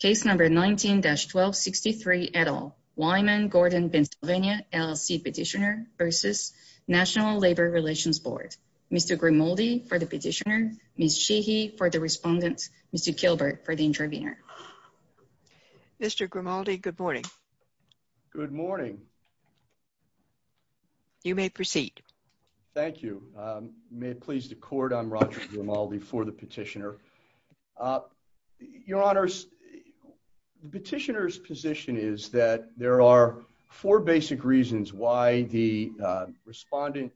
Case number 19-1263, et al. Wyman Gordon Pennsylvania, LLC Petitioner v. National Labor Relations Board. Mr. Grimaldi for the petitioner, Ms. Sheehy for the respondent, Mr. Kilbert for the intervener. Mr. Grimaldi, good morning. Good morning. You may proceed. Thank you. May it please the court, I'm Roger Grimaldi for the petitioner. Your honors, petitioner's position is that there are four basic reasons why the respondent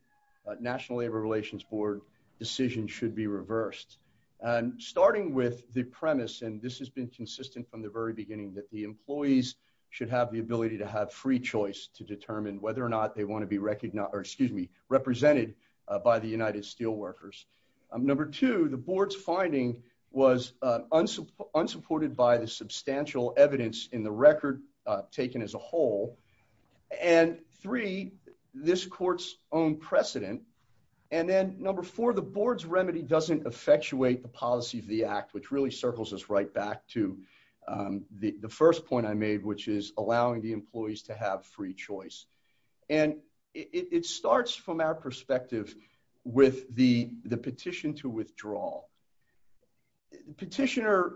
National Labor Relations Board decision should be reversed. And starting with the premise and this has been consistent from the very beginning that the employees should have the ability to have free choice to determine whether or not they want to be recognized, or excuse me, represented by the United Steelworkers. Number two, the board's finding was unsupported by the substantial evidence in the record taken as a whole. And three, this court's own precedent. And then number four, the board's remedy doesn't effectuate the policy of the act which really circles us right back to the first point I made, which is allowing the employees to have free choice. And it starts from our perspective with the petition to withdraw. Petitioner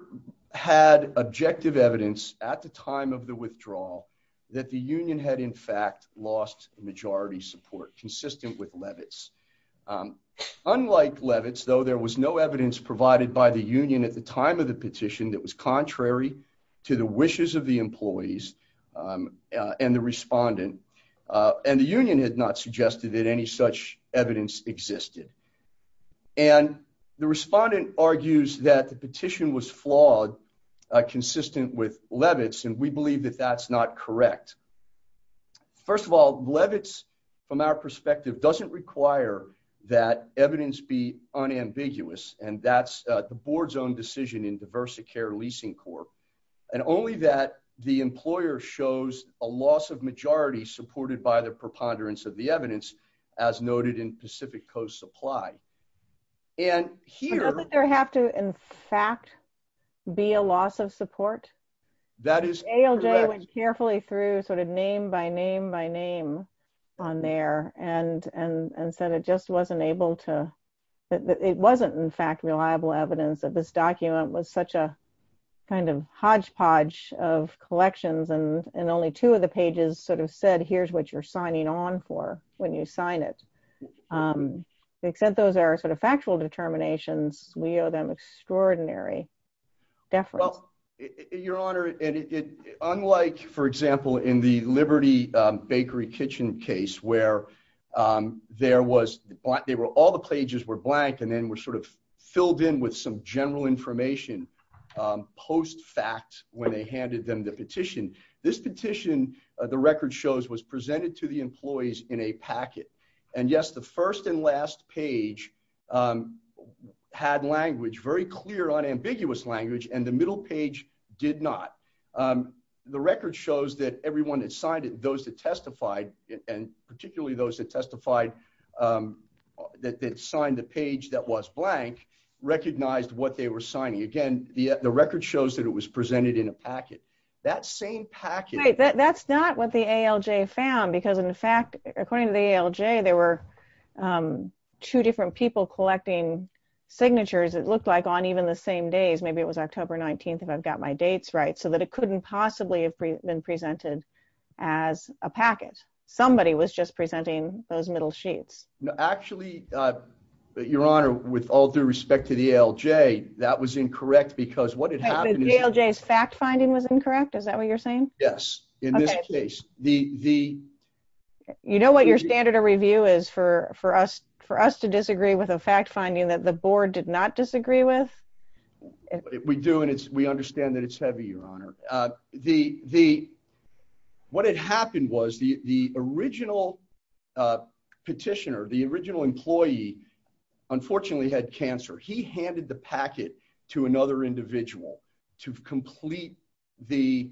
had objective evidence at the time of the withdrawal that the union had in fact lost majority support, consistent with Levitz. Unlike Levitz, though, there was no evidence provided by the union at the time of the petition that was contrary to the wishes of the employees and the respondent. And the union had not suggested that any such evidence existed. And the respondent argues that the petition was flawed, consistent with Levitz and we believe that that's not correct. First of all, Levitz, from our perspective, doesn't require that evidence be unambiguous, and that's the board's own decision in Diversicare Leasing Corp. And only that the employer shows a loss of majority supported by the preponderance of the evidence, as noted in Pacific Coast Supply. And here... Doesn't there have to in fact be a loss of support? That is correct. I went carefully through sort of name by name by name on there and said it just wasn't able to... It wasn't in fact reliable evidence that this document was such a kind of hodgepodge of collections and only two of the pages sort of said here's what you're signing on for when you sign it. Except those are sort of factual determinations, we owe them extraordinary deference. Well, Your Honor, unlike, for example, in the Liberty Bakery Kitchen case where there was... All the pages were blank and then were sort of filled in with some general information post fact when they handed them the petition. This petition, the record shows, was presented to the employees in a packet. And yes, the first and last page had language, very clear unambiguous language, and the middle page did not. The record shows that everyone that signed it, those that testified, and particularly those that testified that signed the page that was blank, recognized what they were signing. Again, the record shows that it was presented in a packet. That same packet... Right, that's not what the ALJ found because in fact, according to the ALJ, there were two different people collecting signatures. It looked like on even the same days, maybe it was October 19th if I've got my dates right, so that it couldn't possibly have been presented as a packet. Somebody was just presenting those middle sheets. No, actually, Your Honor, with all due respect to the ALJ, that was incorrect because what had happened... The fact finding was incorrect, is that what you're saying? Yes, in this case. You know what your standard of review is for us to disagree with a fact finding that the board did not disagree with? We do, and we understand that it's heavy, Your Honor. What had happened was the original petitioner, the original employee, unfortunately had cancer. He handed the packet to another individual to complete the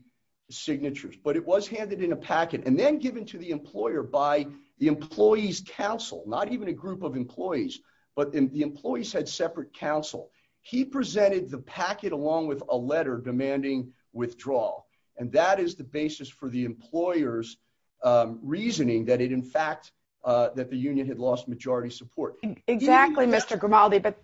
signatures, but it was handed in a packet and then given to the employer by the employee's counsel. Not even a group of employees, but the employees had separate counsel. He presented the packet along with a letter demanding withdrawal, and that is the basis for the employer's reasoning that it, in fact, that the union had lost majority support. Exactly, Mr. Grimaldi, but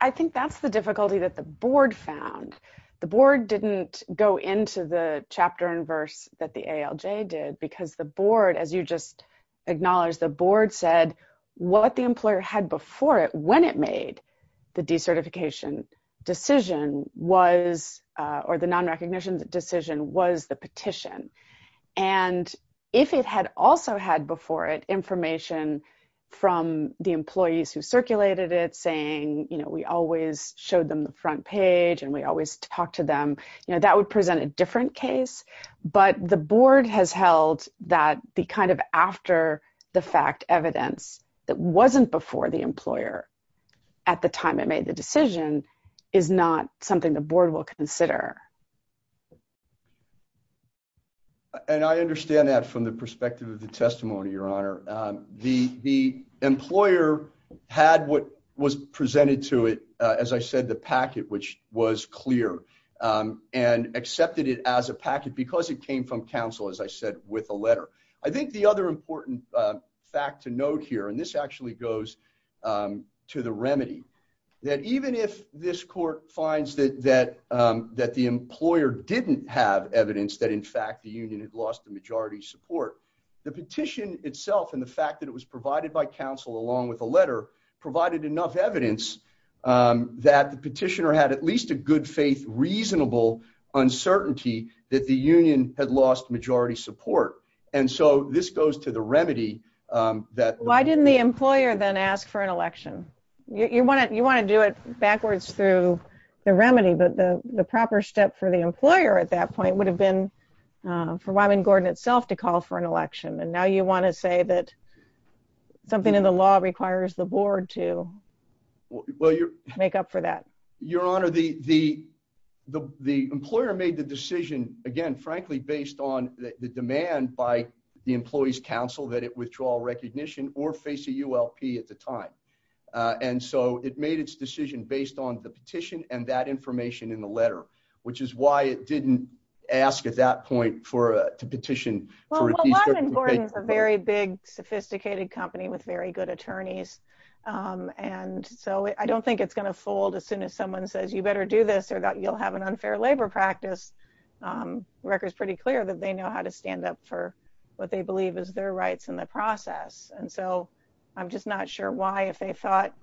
I think that's the difficulty that the board found. The board didn't go into the chapter and verse that the ALJ did because the board, as you just acknowledged, the board said what the employer had before it when it made the decertification decision was, or the non-recognition decision, was the petition. And if it had also had before it information from the employees who circulated it saying, you know, we always showed them the front page and we always talked to them, you know, that would present a different case, but the board has held that the kind of after the fact evidence that wasn't before the employer at the time it made the decision is not something the board will consider. And I understand that from the perspective of the testimony, Your Honor. The employer had what was presented to it, as I said, the packet, which was clear and accepted it as a packet because it came from counsel, as I said, with a letter. I think the other important fact to note here, and this actually goes to the remedy, that even if this court finds that the employer didn't have evidence that in fact the union had lost the majority support, the petition itself and the fact that it was provided by counsel along with a letter provided enough evidence that the petitioner had at least a good faith reasonable uncertainty that the union had lost majority support. And so this goes to the remedy that why didn't the employer then ask for an election, you want to you want to do it backwards through the remedy but the proper step for the employer at that point would have been for Robin Gordon itself to call for an election and now you want to say that something in the law requires the board to make up for that. Your Honor, the, the, the employer made the decision, again, frankly, based on the demand by the employees counsel that it withdraw recognition or face a ULP at the time. And so it made its decision based on the petition and that information in the letter, which is why it didn't ask at that point for a petition for a very big sophisticated company with very good attorneys. And so I don't think it's going to fold as soon as someone says you better do this or that you'll have an unfair labor practice records pretty clear that they know how to stand up for what they believe is their rights in the process. And so I'm just not sure why if they thought,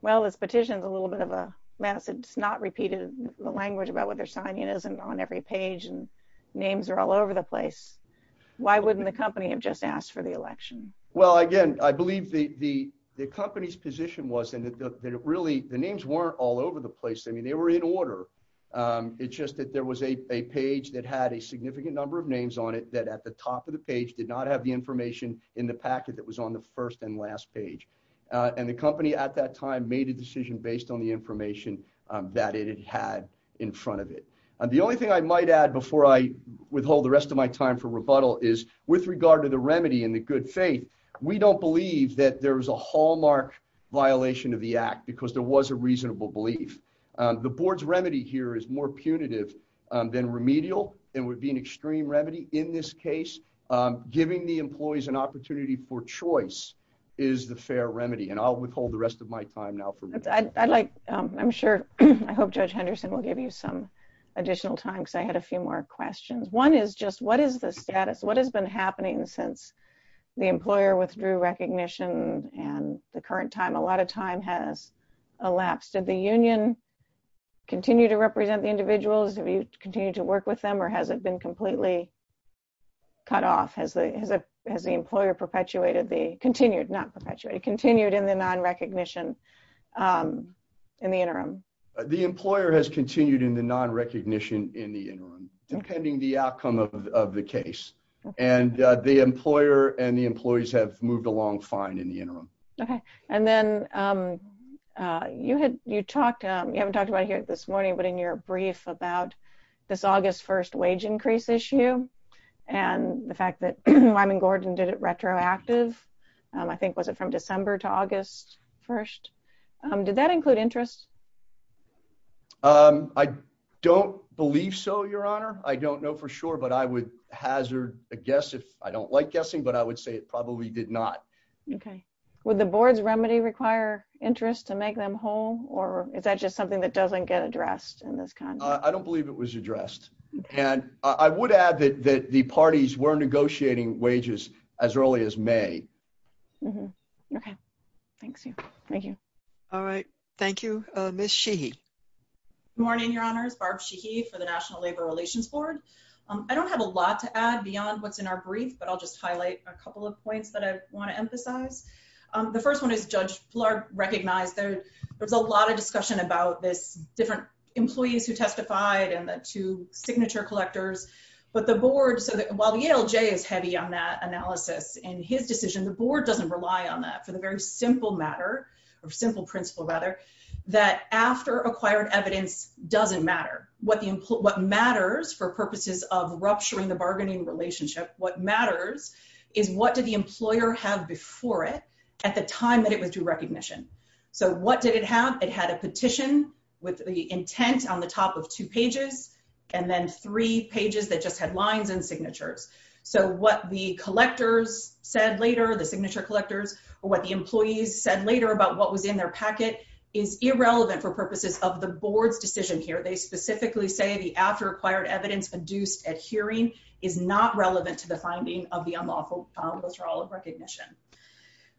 well, this petition is a little bit of a massive it's not repeated the language about what they're signing isn't on every page and names are all over the place. Why wouldn't the company have just asked for the election. Well, again, I believe the, the, the company's position was and that really the names weren't all over the place I mean they were in order. It's just that there was a page that had a significant number of names on it that at the top of the page did not have the information in the packet that was on the first and last page. And the company at that time made a decision based on the information that it had in front of it. And the only thing I might add before I withhold the rest of my time for rebuttal is with regard to the remedy and the good faith. We don't believe that there was a hallmark violation of the act because there was a reasonable belief, the board's remedy here is more punitive than remedial and would be an extreme remedy. In this case, giving the employees an opportunity for choice is the fair remedy and I'll withhold the rest of my time now for like, I'm sure I hope Judge Henderson will give you some additional time so I had a few more questions. One is just what is the status what has been happening since the employer withdrew recognition, and the current time a lot of time has elapsed at the union continue to represent the individuals have you continue to work with them or has it been completely cut off has the has the employer perpetuated the continued not perpetuated continued in the non recognition in the interim. The employer has continued in the non recognition in the interim, depending the outcome of the case, and the employer and the employees have moved along fine in the interim. Okay. And then you had you talked, you haven't talked about here this morning but in your brief about this August 1 wage increase issue, and the fact that I'm in Gordon did it retroactive. I think was it from December to August 1. Did that include interest. I don't believe so, Your Honor, I don't know for sure but I would hazard a guess if I don't like guessing but I would say it probably did not. Okay. Would the board's remedy require interest to make them whole, or is that just something that doesn't get addressed in this kind. I don't believe it was addressed. And I would add that the parties were negotiating wages, as early as May. Okay, thanks. Thank you. All right. Thank you, Miss she. Morning, Your Honors Barb she he for the National Labor Relations Board. I don't have a lot to add beyond what's in our brief but I'll just highlight a couple of points that I want to emphasize. The first one is Judge Clark recognize that there's a lot of discussion about this different employees who testified and the two signature collectors, but the board so that while the LJ is heavy on that analysis and his decision the board doesn't rely on that for the The second point is that it's a very simple matter of simple principle rather that after acquired evidence doesn't matter what the input what matters for purposes of rupturing the bargaining relationship, what matters is what did the employer have before it at the time that it was to recognition. So what did it have it had a petition with the intent on the top of two pages and then three pages that just headlines and signatures. So what the collectors said later the signature collectors or what the employees said later about what was in their packet is irrelevant for purposes of the board's decision here they specifically say the after acquired evidence produced at hearing is not relevant to the finding of the unlawful. Withdrawal of recognition.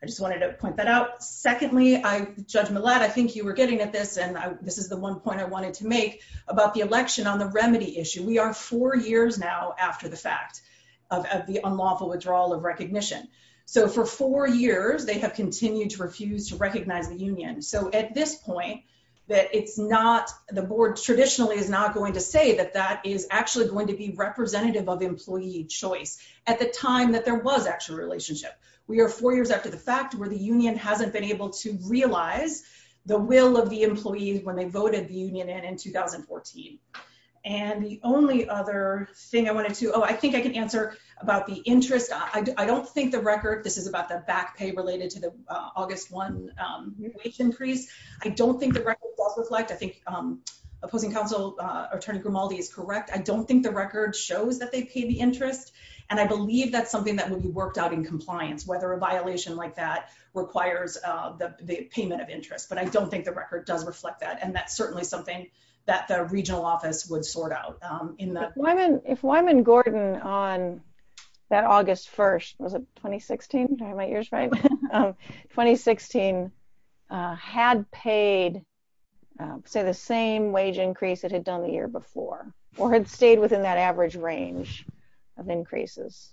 I just wanted to point that out. Secondly, I judgment lad. I think you were getting at this and this is the one point I wanted to make about the election on the remedy issue. We are four years now after the fact. Of the unlawful withdrawal of recognition. So for four years they have continued to refuse to recognize the Union. So at this point. It's not the board traditionally is not going to say that that is actually going to be representative of employee choice at the time that there was actual relationship. We are four years after the fact, where the Union hasn't been able to realize the will of the employees when they voted the Union and in 2014 And the only other thing I wanted to. Oh, I think I can answer about the interest. I don't think the record. This is about the back pay related to the August one. Increase. I don't think the record reflect. I think opposing counsel attorney Grimaldi is correct. I don't think the record shows that they pay the interest And I believe that's something that will be worked out in compliance, whether a violation like that requires the payment of interest, but I don't think the record does reflect that. And that's certainly something that the regional office would sort out in that If Wyman Gordon on that August 1 was a 2016 my ears right 2016 had paid say the same wage increase it had done the year before, or had stayed within that average range of increases.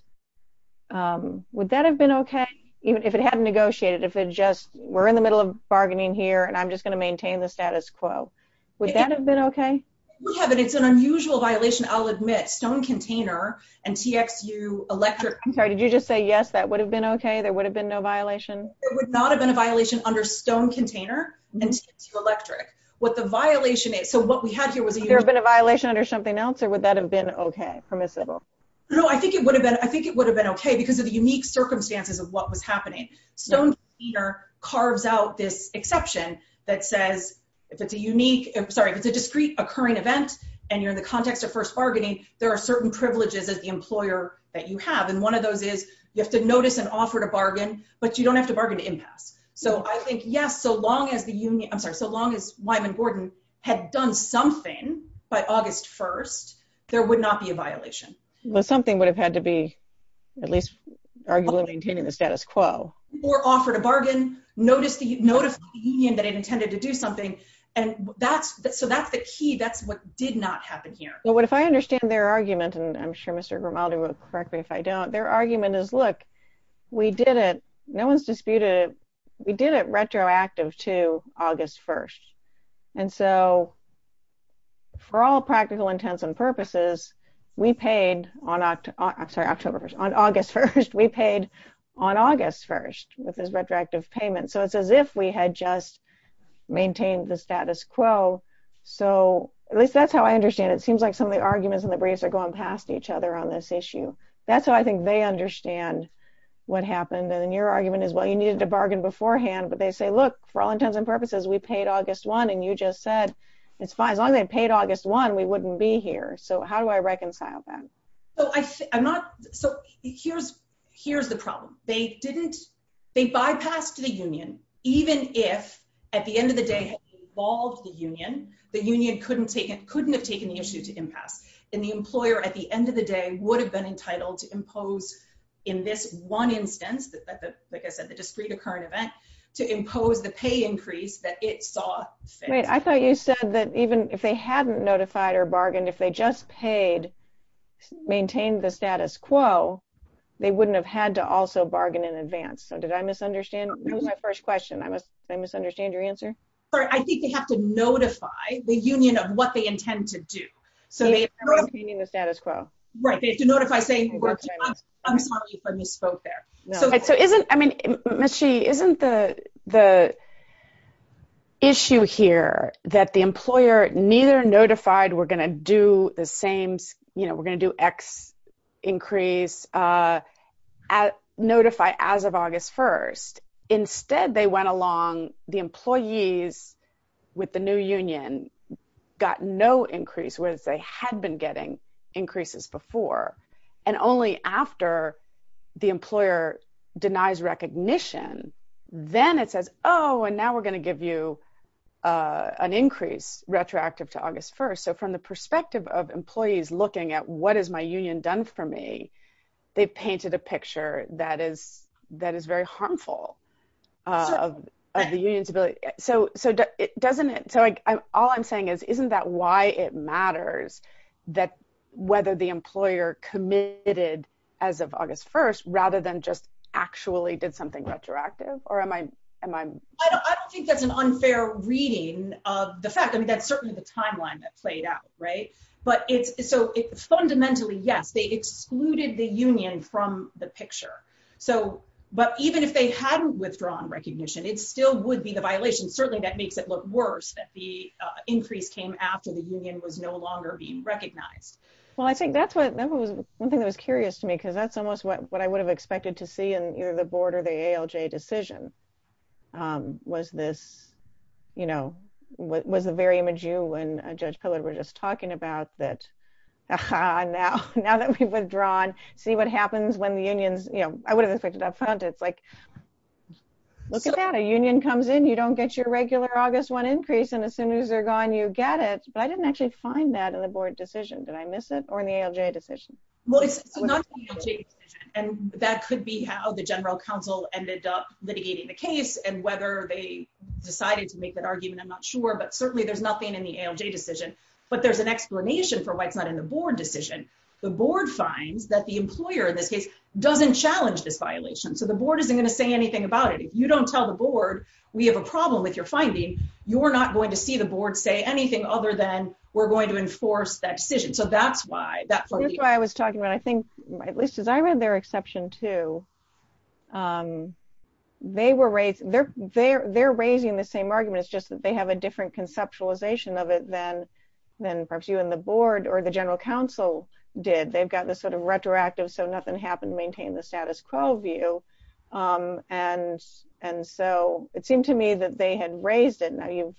Would that have been okay, even if it hadn't negotiated if it just were in the middle of bargaining here and I'm just going to maintain the status quo. Would that have been okay. We haven't. It's an unusual violation. I'll admit stone container and TX you electric Sorry, did you just say yes, that would have been okay. There would have been no violation. Would not have been a violation under stone container and electric what the violation is. So what we had here was a There have been a violation or something else, or would that have been okay permissible No, I think it would have been. I think it would have been okay because of the unique circumstances of what was happening stone. Carves out this exception that says if it's a unique. Sorry, it's a discreet occurring event. And you're in the context of first bargaining. There are certain privileges as the employer that you have. And one of those is you have to notice an offer to bargain, but you don't have to bargain to impasse. So I think, yes, so long as the union. I'm sorry. So long as Wyman Gordon had done something by August 1 there would not be a violation. But something would have had to be at least arguably maintaining the status quo. Or offered a bargain notice the notice that it intended to do something. And that's that. So that's the key. That's what did not happen here. But what if I understand their argument and I'm sure Mr. Grimaldi will correct me if I don't their argument is look, we did it. No one's disputed. We did it retroactive to August 1 and so For all practical intents and purposes, we paid on October. I'm sorry, October 1 on August 1 we paid on August 1 with this retroactive payment. So it's as if we had just Maintained the status quo. So at least that's how I understand it seems like some of the arguments in the briefs are going past each other on this issue. That's what I think they understand What happened and your argument is, well, you needed to bargain beforehand, but they say, look, for all intents and purposes, we paid August 1 and you just said it's fine as long as I paid August 1 we wouldn't be here. So how do I reconcile that So here's, here's the problem. They didn't they bypassed the union, even if at the end of the day involved the union, the union couldn't take it couldn't have taken the issue to impasse and the employer at the end of the day would have been entitled to impose in this one instance that Like I said, the discrete current event to impose the pay increase that it saw I thought you said that even if they hadn't notified or bargained if they just paid maintain the status quo, they wouldn't have had to also bargain in advance. So did I misunderstand. That was my first question. I must say misunderstand your answer. I think they have to notify the union of what they intend to do so they Isn't, I mean, she isn't the the Issue here that the employer neither notified. We're going to do the same, you know, we're going to do X increase At notify as of August 1 instead they went along the employees with the new union got no increase was they had been getting increases before and only after the employer denies recognition, then it says, oh, and now we're going to give you An increase retroactive to August 1 so from the perspective of employees looking at what is my union done for me. They painted a picture that is that is very harmful. Of the unions ability. So, so it doesn't it. So all I'm saying is, isn't that why it matters that whether the employer committed as of August 1 rather than just actually did something retroactive or am I, am I I don't think that's an unfair reading of the fact. I mean, that's certainly the timeline that played out right but it's so fundamentally, yes, they excluded the union from the picture. So, but even if they hadn't withdrawn recognition. It's still would be the violation. Certainly, that makes it look worse that the increase came after the union was no longer being recognized. Well, I think that's what that was one thing that was curious to me because that's almost what I would have expected to see and either the board or the ALJ decision. Was this, you know, what was the very image you and Judge Pillar were just talking about that. Now, now that we've withdrawn. See what happens when the unions, you know, I would have expected up front. It's like, Look at that a union comes in. You don't get your regular August one increase. And as soon as they're gone, you get it. But I didn't actually find that in the board decision that I miss it or in the ALJ decision. Well, it's not And that could be how the general counsel ended up litigating the case and whether they decided to make that argument. I'm not sure, but certainly there's nothing in the ALJ decision. But there's an explanation for why it's not in the board decision, the board finds that the employer in this case doesn't challenge this violation. So the board isn't going to say anything about it. If you don't tell the board. We have a problem with your finding, you're not going to see the board say anything other than we're going to enforce that decision. So that's why that's why I was talking about, I think, at least as I read their exception to They were raised, they're, they're, they're raising the same argument. It's just that they have a different conceptualization of it then Then perhaps you and the board or the general counsel did they've got this sort of retroactive so nothing happened maintain the status quo view. And, and so it seemed to me that they had raised it. Now you've,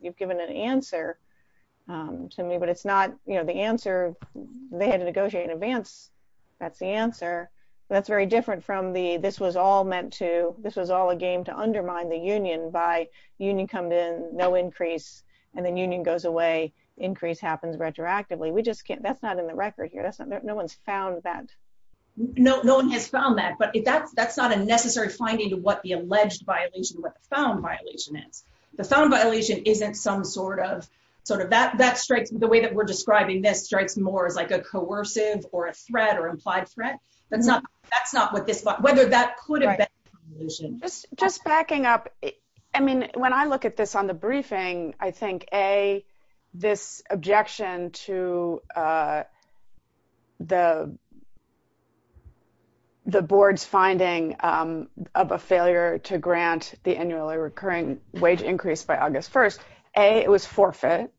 you've given an answer. To me, but it's not, you know, the answer they had to negotiate in advance. That's the answer. That's very different from the this was all meant to this was all a game to undermine the union by union come in no increase and then union goes away increase happens retroactively we just can't. That's not in the record here. That's not no one's found that No, no one has found that. But that's, that's not a necessary finding to what the alleged violation found violation is the found violation isn't some sort of Sort of that that strikes me the way that we're describing this strikes more as like a coercive or a threat or implied threat. That's not, that's not what this whether that could have been Just backing up. I mean, when I look at this on the briefing. I think a this objection to The The board's finding of a failure to grant the annually recurring wage increase by August 1 a it was forfeit.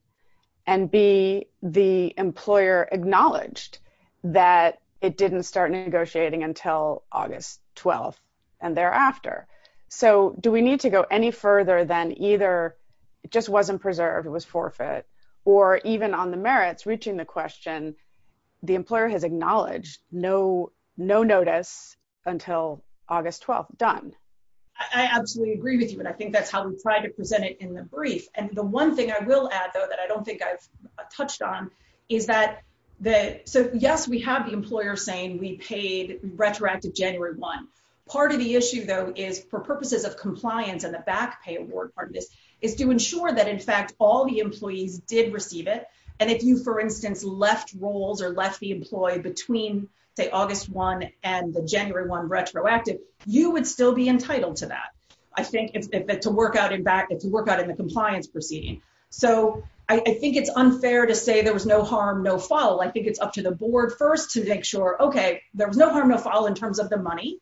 And be the employer acknowledged that it didn't start negotiating until August 12 and thereafter. So do we need to go any further than either It just wasn't preserved. It was forfeit or even on the merits reaching the question, the employer has acknowledged no no notice until August 12 done I absolutely agree with you. And I think that's how we try to present it in the brief. And the one thing I will add, though, that I don't think I've Touched on is that the so yes, we have the employer saying we paid retroactive January one. Part of the issue, though, is for purposes of compliance and the back pay award part of this is to ensure that in fact all the employees did receive it. And if you, for instance, left roles or left the employee between say August one and the January one retroactive you would still be entitled to that. I think it's to work out in back to work out in the compliance proceeding. So I think it's unfair to say there was no harm, no foul. I think it's up to the board first to make sure. Okay, there was no harm no foul in terms of the money.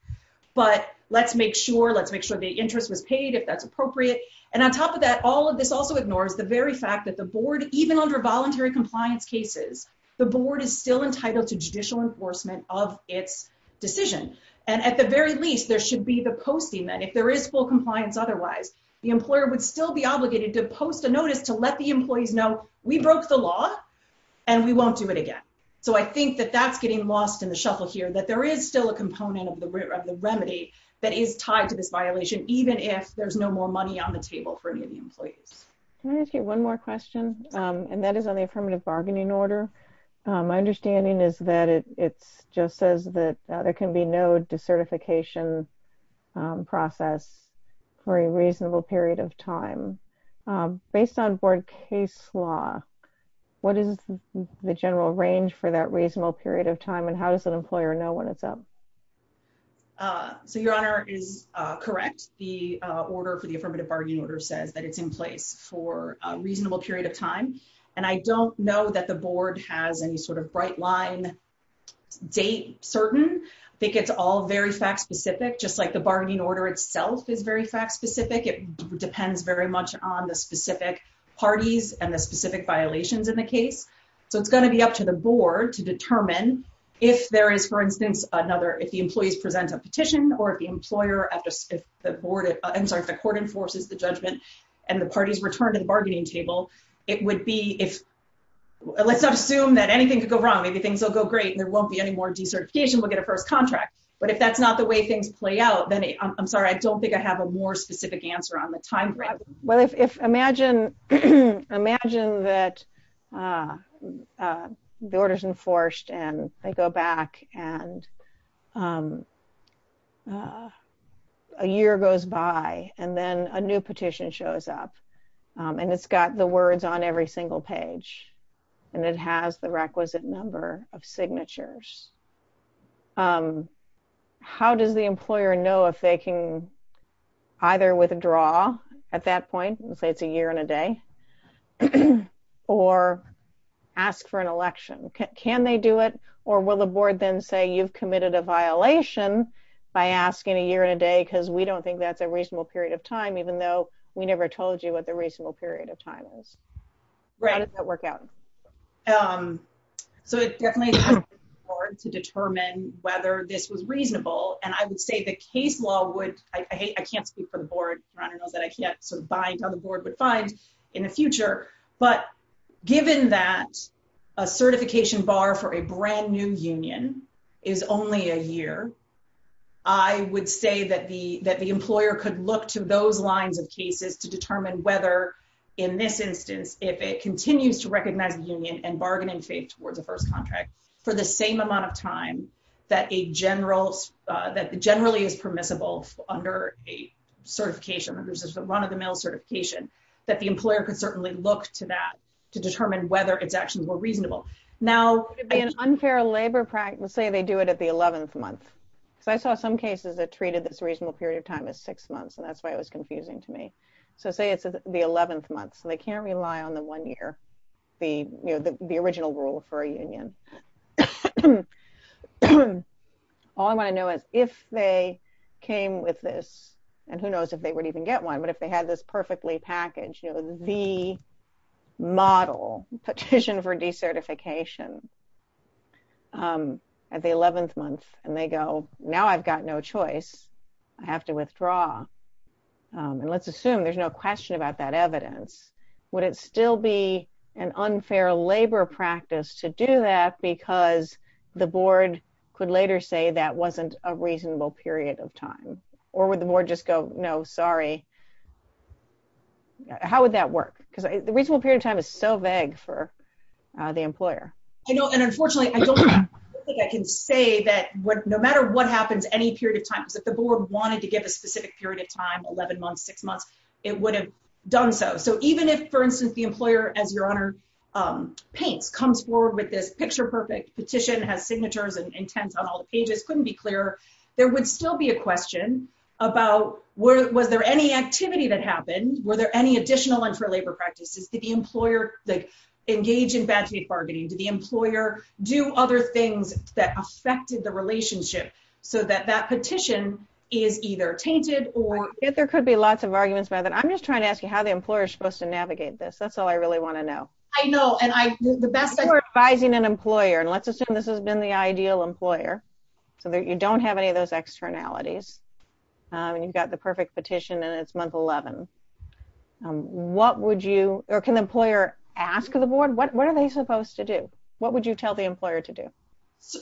But let's make sure let's make sure the interest was paid if that's appropriate. And on top of that, all of this also ignores the very fact that the board, even under voluntary compliance cases. The board is still entitled to judicial enforcement of its decision. And at the very least, there should be the posting that if there is full compliance. Otherwise, the employer would still be obligated to post a notice to let the employees know we broke the law. And we won't do it again. So I think that that's getting lost in the shuffle here that there is still a component of the root of the remedy that is tied to this violation, even if there's no more money on the table for any of the employees. One more question. And that is on the affirmative bargaining order. My understanding is that it's just says that there can be no decertification process for a reasonable period of time, based on board case law, what is the general range for that reasonable period of time and how does an employer know when it's up. So your honor is correct. The order for the affirmative bargaining order says that it's in place for a reasonable period of time. And I don't know that the board has any sort of bright line. Date certain think it's all very fact specific, just like the bargaining order itself is very fact specific. It depends very much on the specific parties and the specific violations in the case. So it's going to be up to the board to determine if there is, for instance, another if the employees present a petition or the employer at the board. I'm sorry, the court enforces the judgment and the parties return to the bargaining table, it would be if Let's assume that anything could go wrong. Maybe things will go great. There won't be any more decertification will get a first contract. But if that's not the way things play out, then I'm sorry, I don't think I have a more specific answer on the time. Well, if imagine, imagine that The orders enforced and they go back and A year goes by and then a new petition shows up and it's got the words on every single page and it has the requisite number of signatures. How does the employer know if they can either withdraw at that point and say it's a year and a day. Or ask for an election. Can they do it or will the board then say you've committed a violation by asking a year and a day because we don't think that's a reasonable period of time, even though we never told you what the reasonable period of time is right work out So it definitely To determine whether this was reasonable and I would say the case law would I hate. I can't speak for the board runner knows that I can't sort of bind on the board would find in the future, but Given that a certification bar for a brand new union is only a year. I would say that the that the employer could look to those lines of cases to determine whether In this instance, if it continues to recognize the union and bargaining faith towards the first contract for the same amount of time that a general That generally is permissible under a certification versus the run of the mill certification that the employer could certainly look to that to determine whether it's actually more reasonable now. An unfair labor practice, say they do it at the 11th month. So I saw some cases that treated this reasonable period of time is six months. And that's why it was confusing to me. So say it's the 11th month so they can't rely on the one year the, you know, the, the original rule for a union. All I want to know is if they came with this and who knows if they would even get one. But if they had this perfectly package, you know, the model petition for decertification. At the 11th month and they go. Now I've got no choice. I have to withdraw. And let's assume there's no question about that evidence. Would it still be an unfair labor practice to do that because the board could later say that wasn't a reasonable period of time, or would the board just go. No, sorry. How would that work because the reasonable period of time is so vague for the employer. I know. And unfortunately, I don't think I can say that what no matter what happens any period of time is that the board wanted to give a specific period of time 11 months, six months, it would have done so. So even if, for instance, the employer as your honor. Paints comes forward with this picture perfect petition has signatures and intense on all the pages couldn't be clearer. There would still be a question about where was there any activity that happened. Were there any additional and for labor practices to the employer that engage in bad faith bargaining to the employer do other things that affected the relationship so that that petition is either tainted or If there could be lots of arguments by that. I'm just trying to ask you how the employer is supposed to navigate this. That's all I really want to know. I know. And I, the best thing we're advising an employer and let's assume this has been the ideal employer, so that you don't have any of those externalities and you've got the perfect petition and it's month 11 What would you or can employer, ask the board. What are they supposed to do, what would you tell the employer to do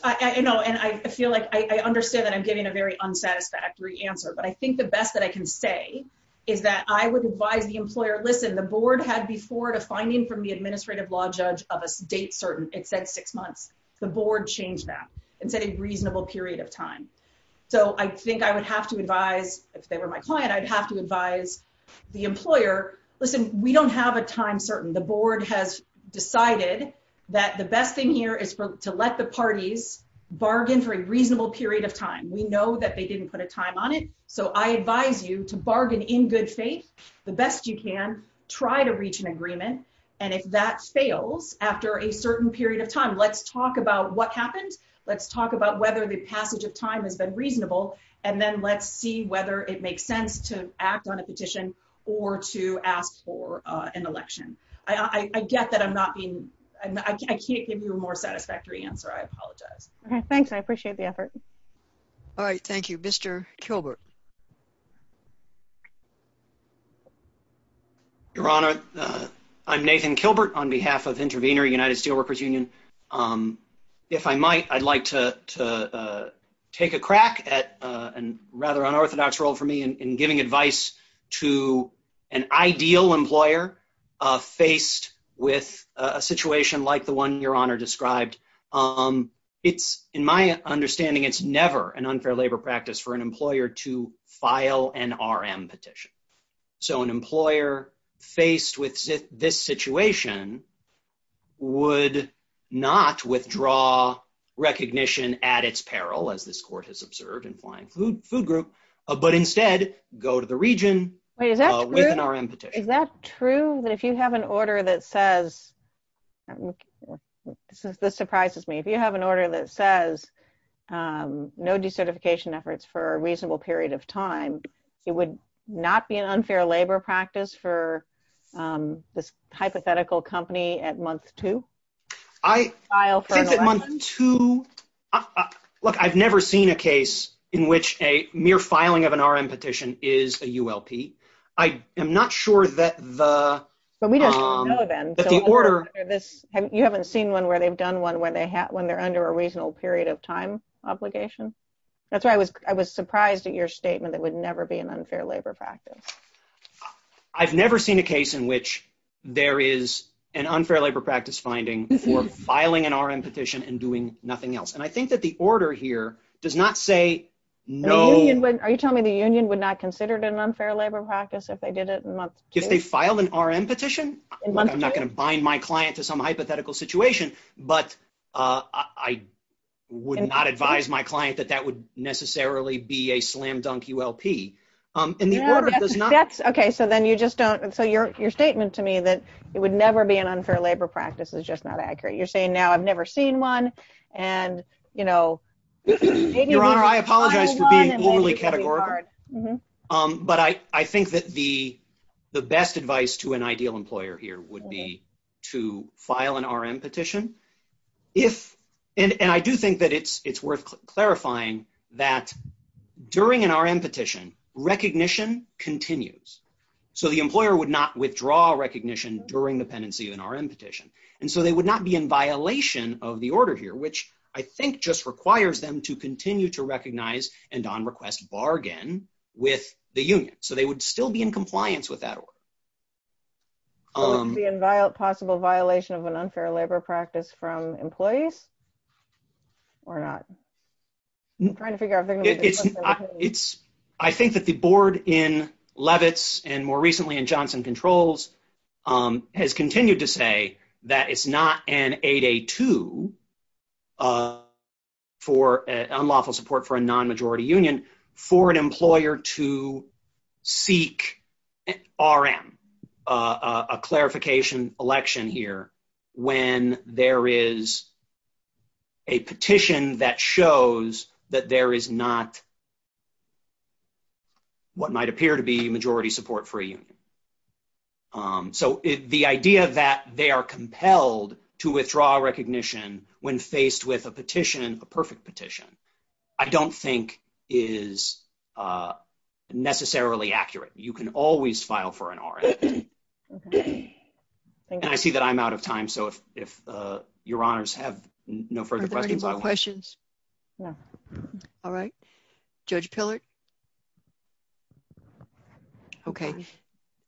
I know and I feel like I understand that I'm getting a very unsatisfactory answer. But I think the best that I can say Is that I would advise the employer. Listen, the board had before to finding from the administrative law judge of a state certain it said six months, the board changed that and said a reasonable period of time. So I think I would have to advise if they were my client, I'd have to advise the employer. Listen, we don't have a time certain the board has decided That the best thing here is to let the parties bargain for a reasonable period of time. We know that they didn't put a time on it. So I advise you to bargain in good faith. The best you can try to reach an agreement. And if that fails after a certain period of time. Let's talk about what happened. Let's talk about whether the passage of time has been reasonable. And then let's see whether it makes sense to act on a petition or to ask for an election. I get that I'm not being I can't give you a more satisfactory answer. I apologize. Okay, thanks. I appreciate the effort. All right. Thank you, Mr. Gilbert. Your Honor, I'm Nathan Kilbert on behalf of intervener United Steelworkers Union. If I might, I'd like to take a crack at and rather unorthodox role for me and giving advice to an ideal employer faced with a situation like the one your honor described. It's in my understanding, it's never an unfair labor practice for an employer to file an RM petition. So an employer faced with this situation would not withdraw recognition at its peril as this court has observed and flying food food group, but instead, go to the region. Is that true that if you have an order that says This surprises me. If you have an order that says No decertification efforts for a reasonable period of time, it would not be an unfair labor practice for This hypothetical company at month to To Look, I've never seen a case in which a mere filing of an RM petition is a ULP. I am not sure that the Order this. You haven't seen one where they've done one where they have when they're under a reasonable period of time obligation. That's why I was, I was surprised at your statement that would never be an unfair labor practice. I've never seen a case in which there is an unfair labor practice finding for filing an RM petition and doing nothing else. And I think that the order here does not say No. When are you telling me the Union would not considered an unfair labor practice if they did it and If they filed an RM petition. I'm not going to bind my client to some hypothetical situation, but I Would not advise my client that that would necessarily be a slam dunk ULP and the That's okay. So then you just don't. So your, your statement to me that it would never be an unfair labor practice is just not accurate. You're saying now I've never seen one and, you know, Your Honor, I apologize. But I, I think that the, the best advice to an ideal employer here would be to file an RM petition. If, and I do think that it's, it's worth clarifying that during an RM petition recognition continues. So the employer would not withdraw recognition during the pen and see an RM petition. And so they would not be in violation of the order here, which I think just requires them to continue to recognize and on request bargain with the Union, so they would still be in compliance with that. Um, the inviolate possible violation of an unfair labor practice from employees. We're not Trying to figure out It's, it's, I think that the board in Levitz and more recently in Johnson controls on has continued to say that it's not an 8A2 For unlawful support for a non majority union for an employer to seek RM a clarification election here when there is A petition that shows that there is not What might appear to be majority support for you. So the idea that they are compelled to withdraw recognition when faced with a petition, a perfect petition. I don't think is Necessarily accurate. You can always file for an RM And I see that I'm out of time. So if if your honors have no further questions. Yeah. All right. Judge pillared Okay.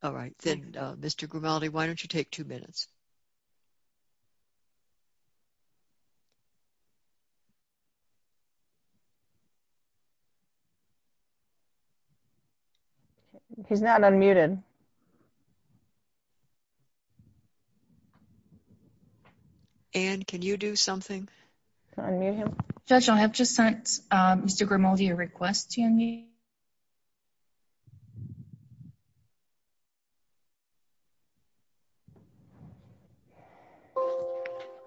All right. Then, Mr. Grimaldi. Why don't you take two minutes. He's not unmuted. And can you do something. Judge, I have just sent Mr. Grimaldi a request to me.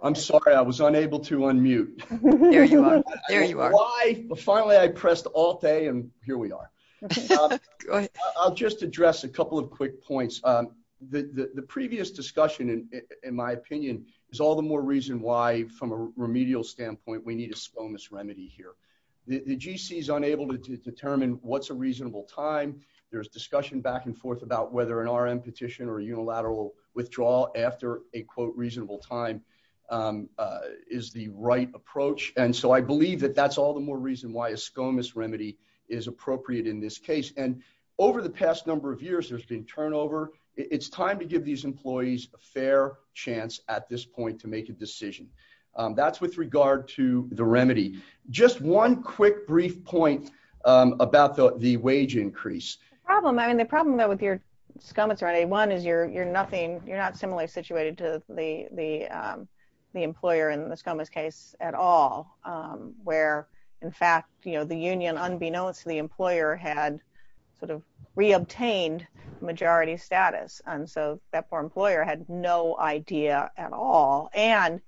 I'm sorry, I was unable to unmute Why finally I pressed all day. And here we are. I'll just address a couple of quick points. The previous discussion, in my opinion, is all the more reason why from a remedial standpoint, we need to slow this remedy here. The GC is unable to determine what's a reasonable time there's discussion back and forth about whether an RM petition or unilateral withdrawal after a quote reasonable time Is the right approach. And so I believe that that's all the more reason why a skirmish remedy is appropriate in this case and Over the past number of years, there's been turnover. It's time to give these employees a fair chance at this point to make a decision that's with regard to the remedy. Just one quick brief point about the the wage increase. Problem. I mean, the problem that with your scum. It's ready. One is you're, you're nothing. You're not similarly situated to the the The employer and the scum is case at all, where in fact, you know, the union, unbeknownst to the employer had sort of re obtained majority status. And so that for employer had no idea at all. And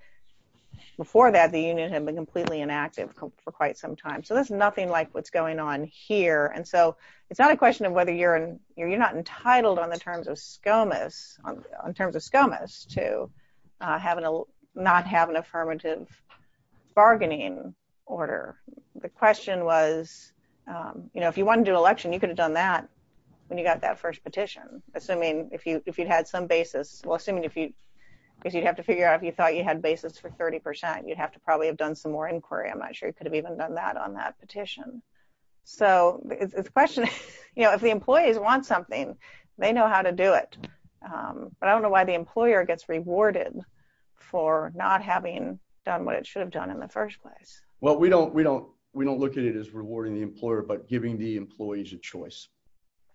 Before that, the union had been completely inactive for quite some time. So there's nothing like what's going on here. And so it's not a question of whether you're in your, you're not entitled on the terms of scum is on terms of scum is to Have a not have an affirmative bargaining order. The question was, you know, if you want to do election, you could have done that. When you got that first petition, assuming if you if you'd had some basis. Well, assuming if you If you'd have to figure out if you thought you had basis for 30% you'd have to probably have done some more inquiry. I'm not sure you could have even done that on that petition. So the question is, you know, if the employees want something they know how to do it. But I don't know why the employer gets rewarded for not having done what it should have done in the first place. Well, we don't, we don't, we don't look at it as rewarding the employer, but giving the employees a choice.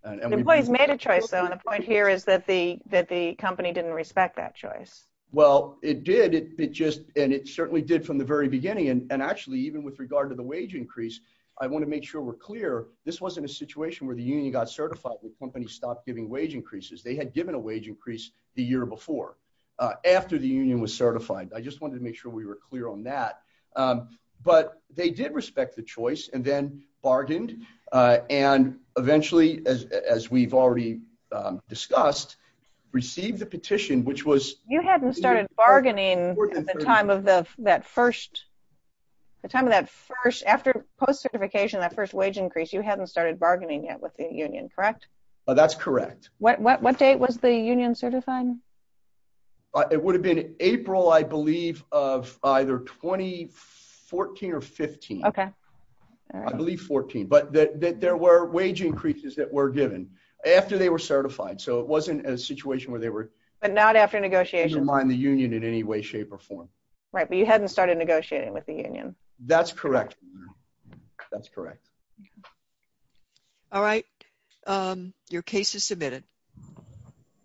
And employees made a choice on a point here is that the that the company didn't respect that choice. Well, it did it just and it certainly did from the very beginning. And actually, even with regard to the wage increase. I want to make sure we're clear. This wasn't a situation where the union got certified the company stopped giving wage increases, they had given a wage increase the year before. After the union was certified. I just wanted to make sure we were clear on that, but they did respect the choice and then bargained and eventually as we've already discussed receive the petition, which was You hadn't started bargaining. Time of the that first the time of that first after post certification that first wage increase you hadn't started bargaining yet with the union. Correct. That's correct. What date was the union certified It would have been April, I believe, of either 2014 or 15 Okay. I believe 14 but that there were wage increases that were given after they were certified. So it wasn't a situation where they were But not after negotiation. Remind the union in any way, shape, or form. Right. But you hadn't started negotiating with the union. That's correct. That's correct. All right. Your case is submitted.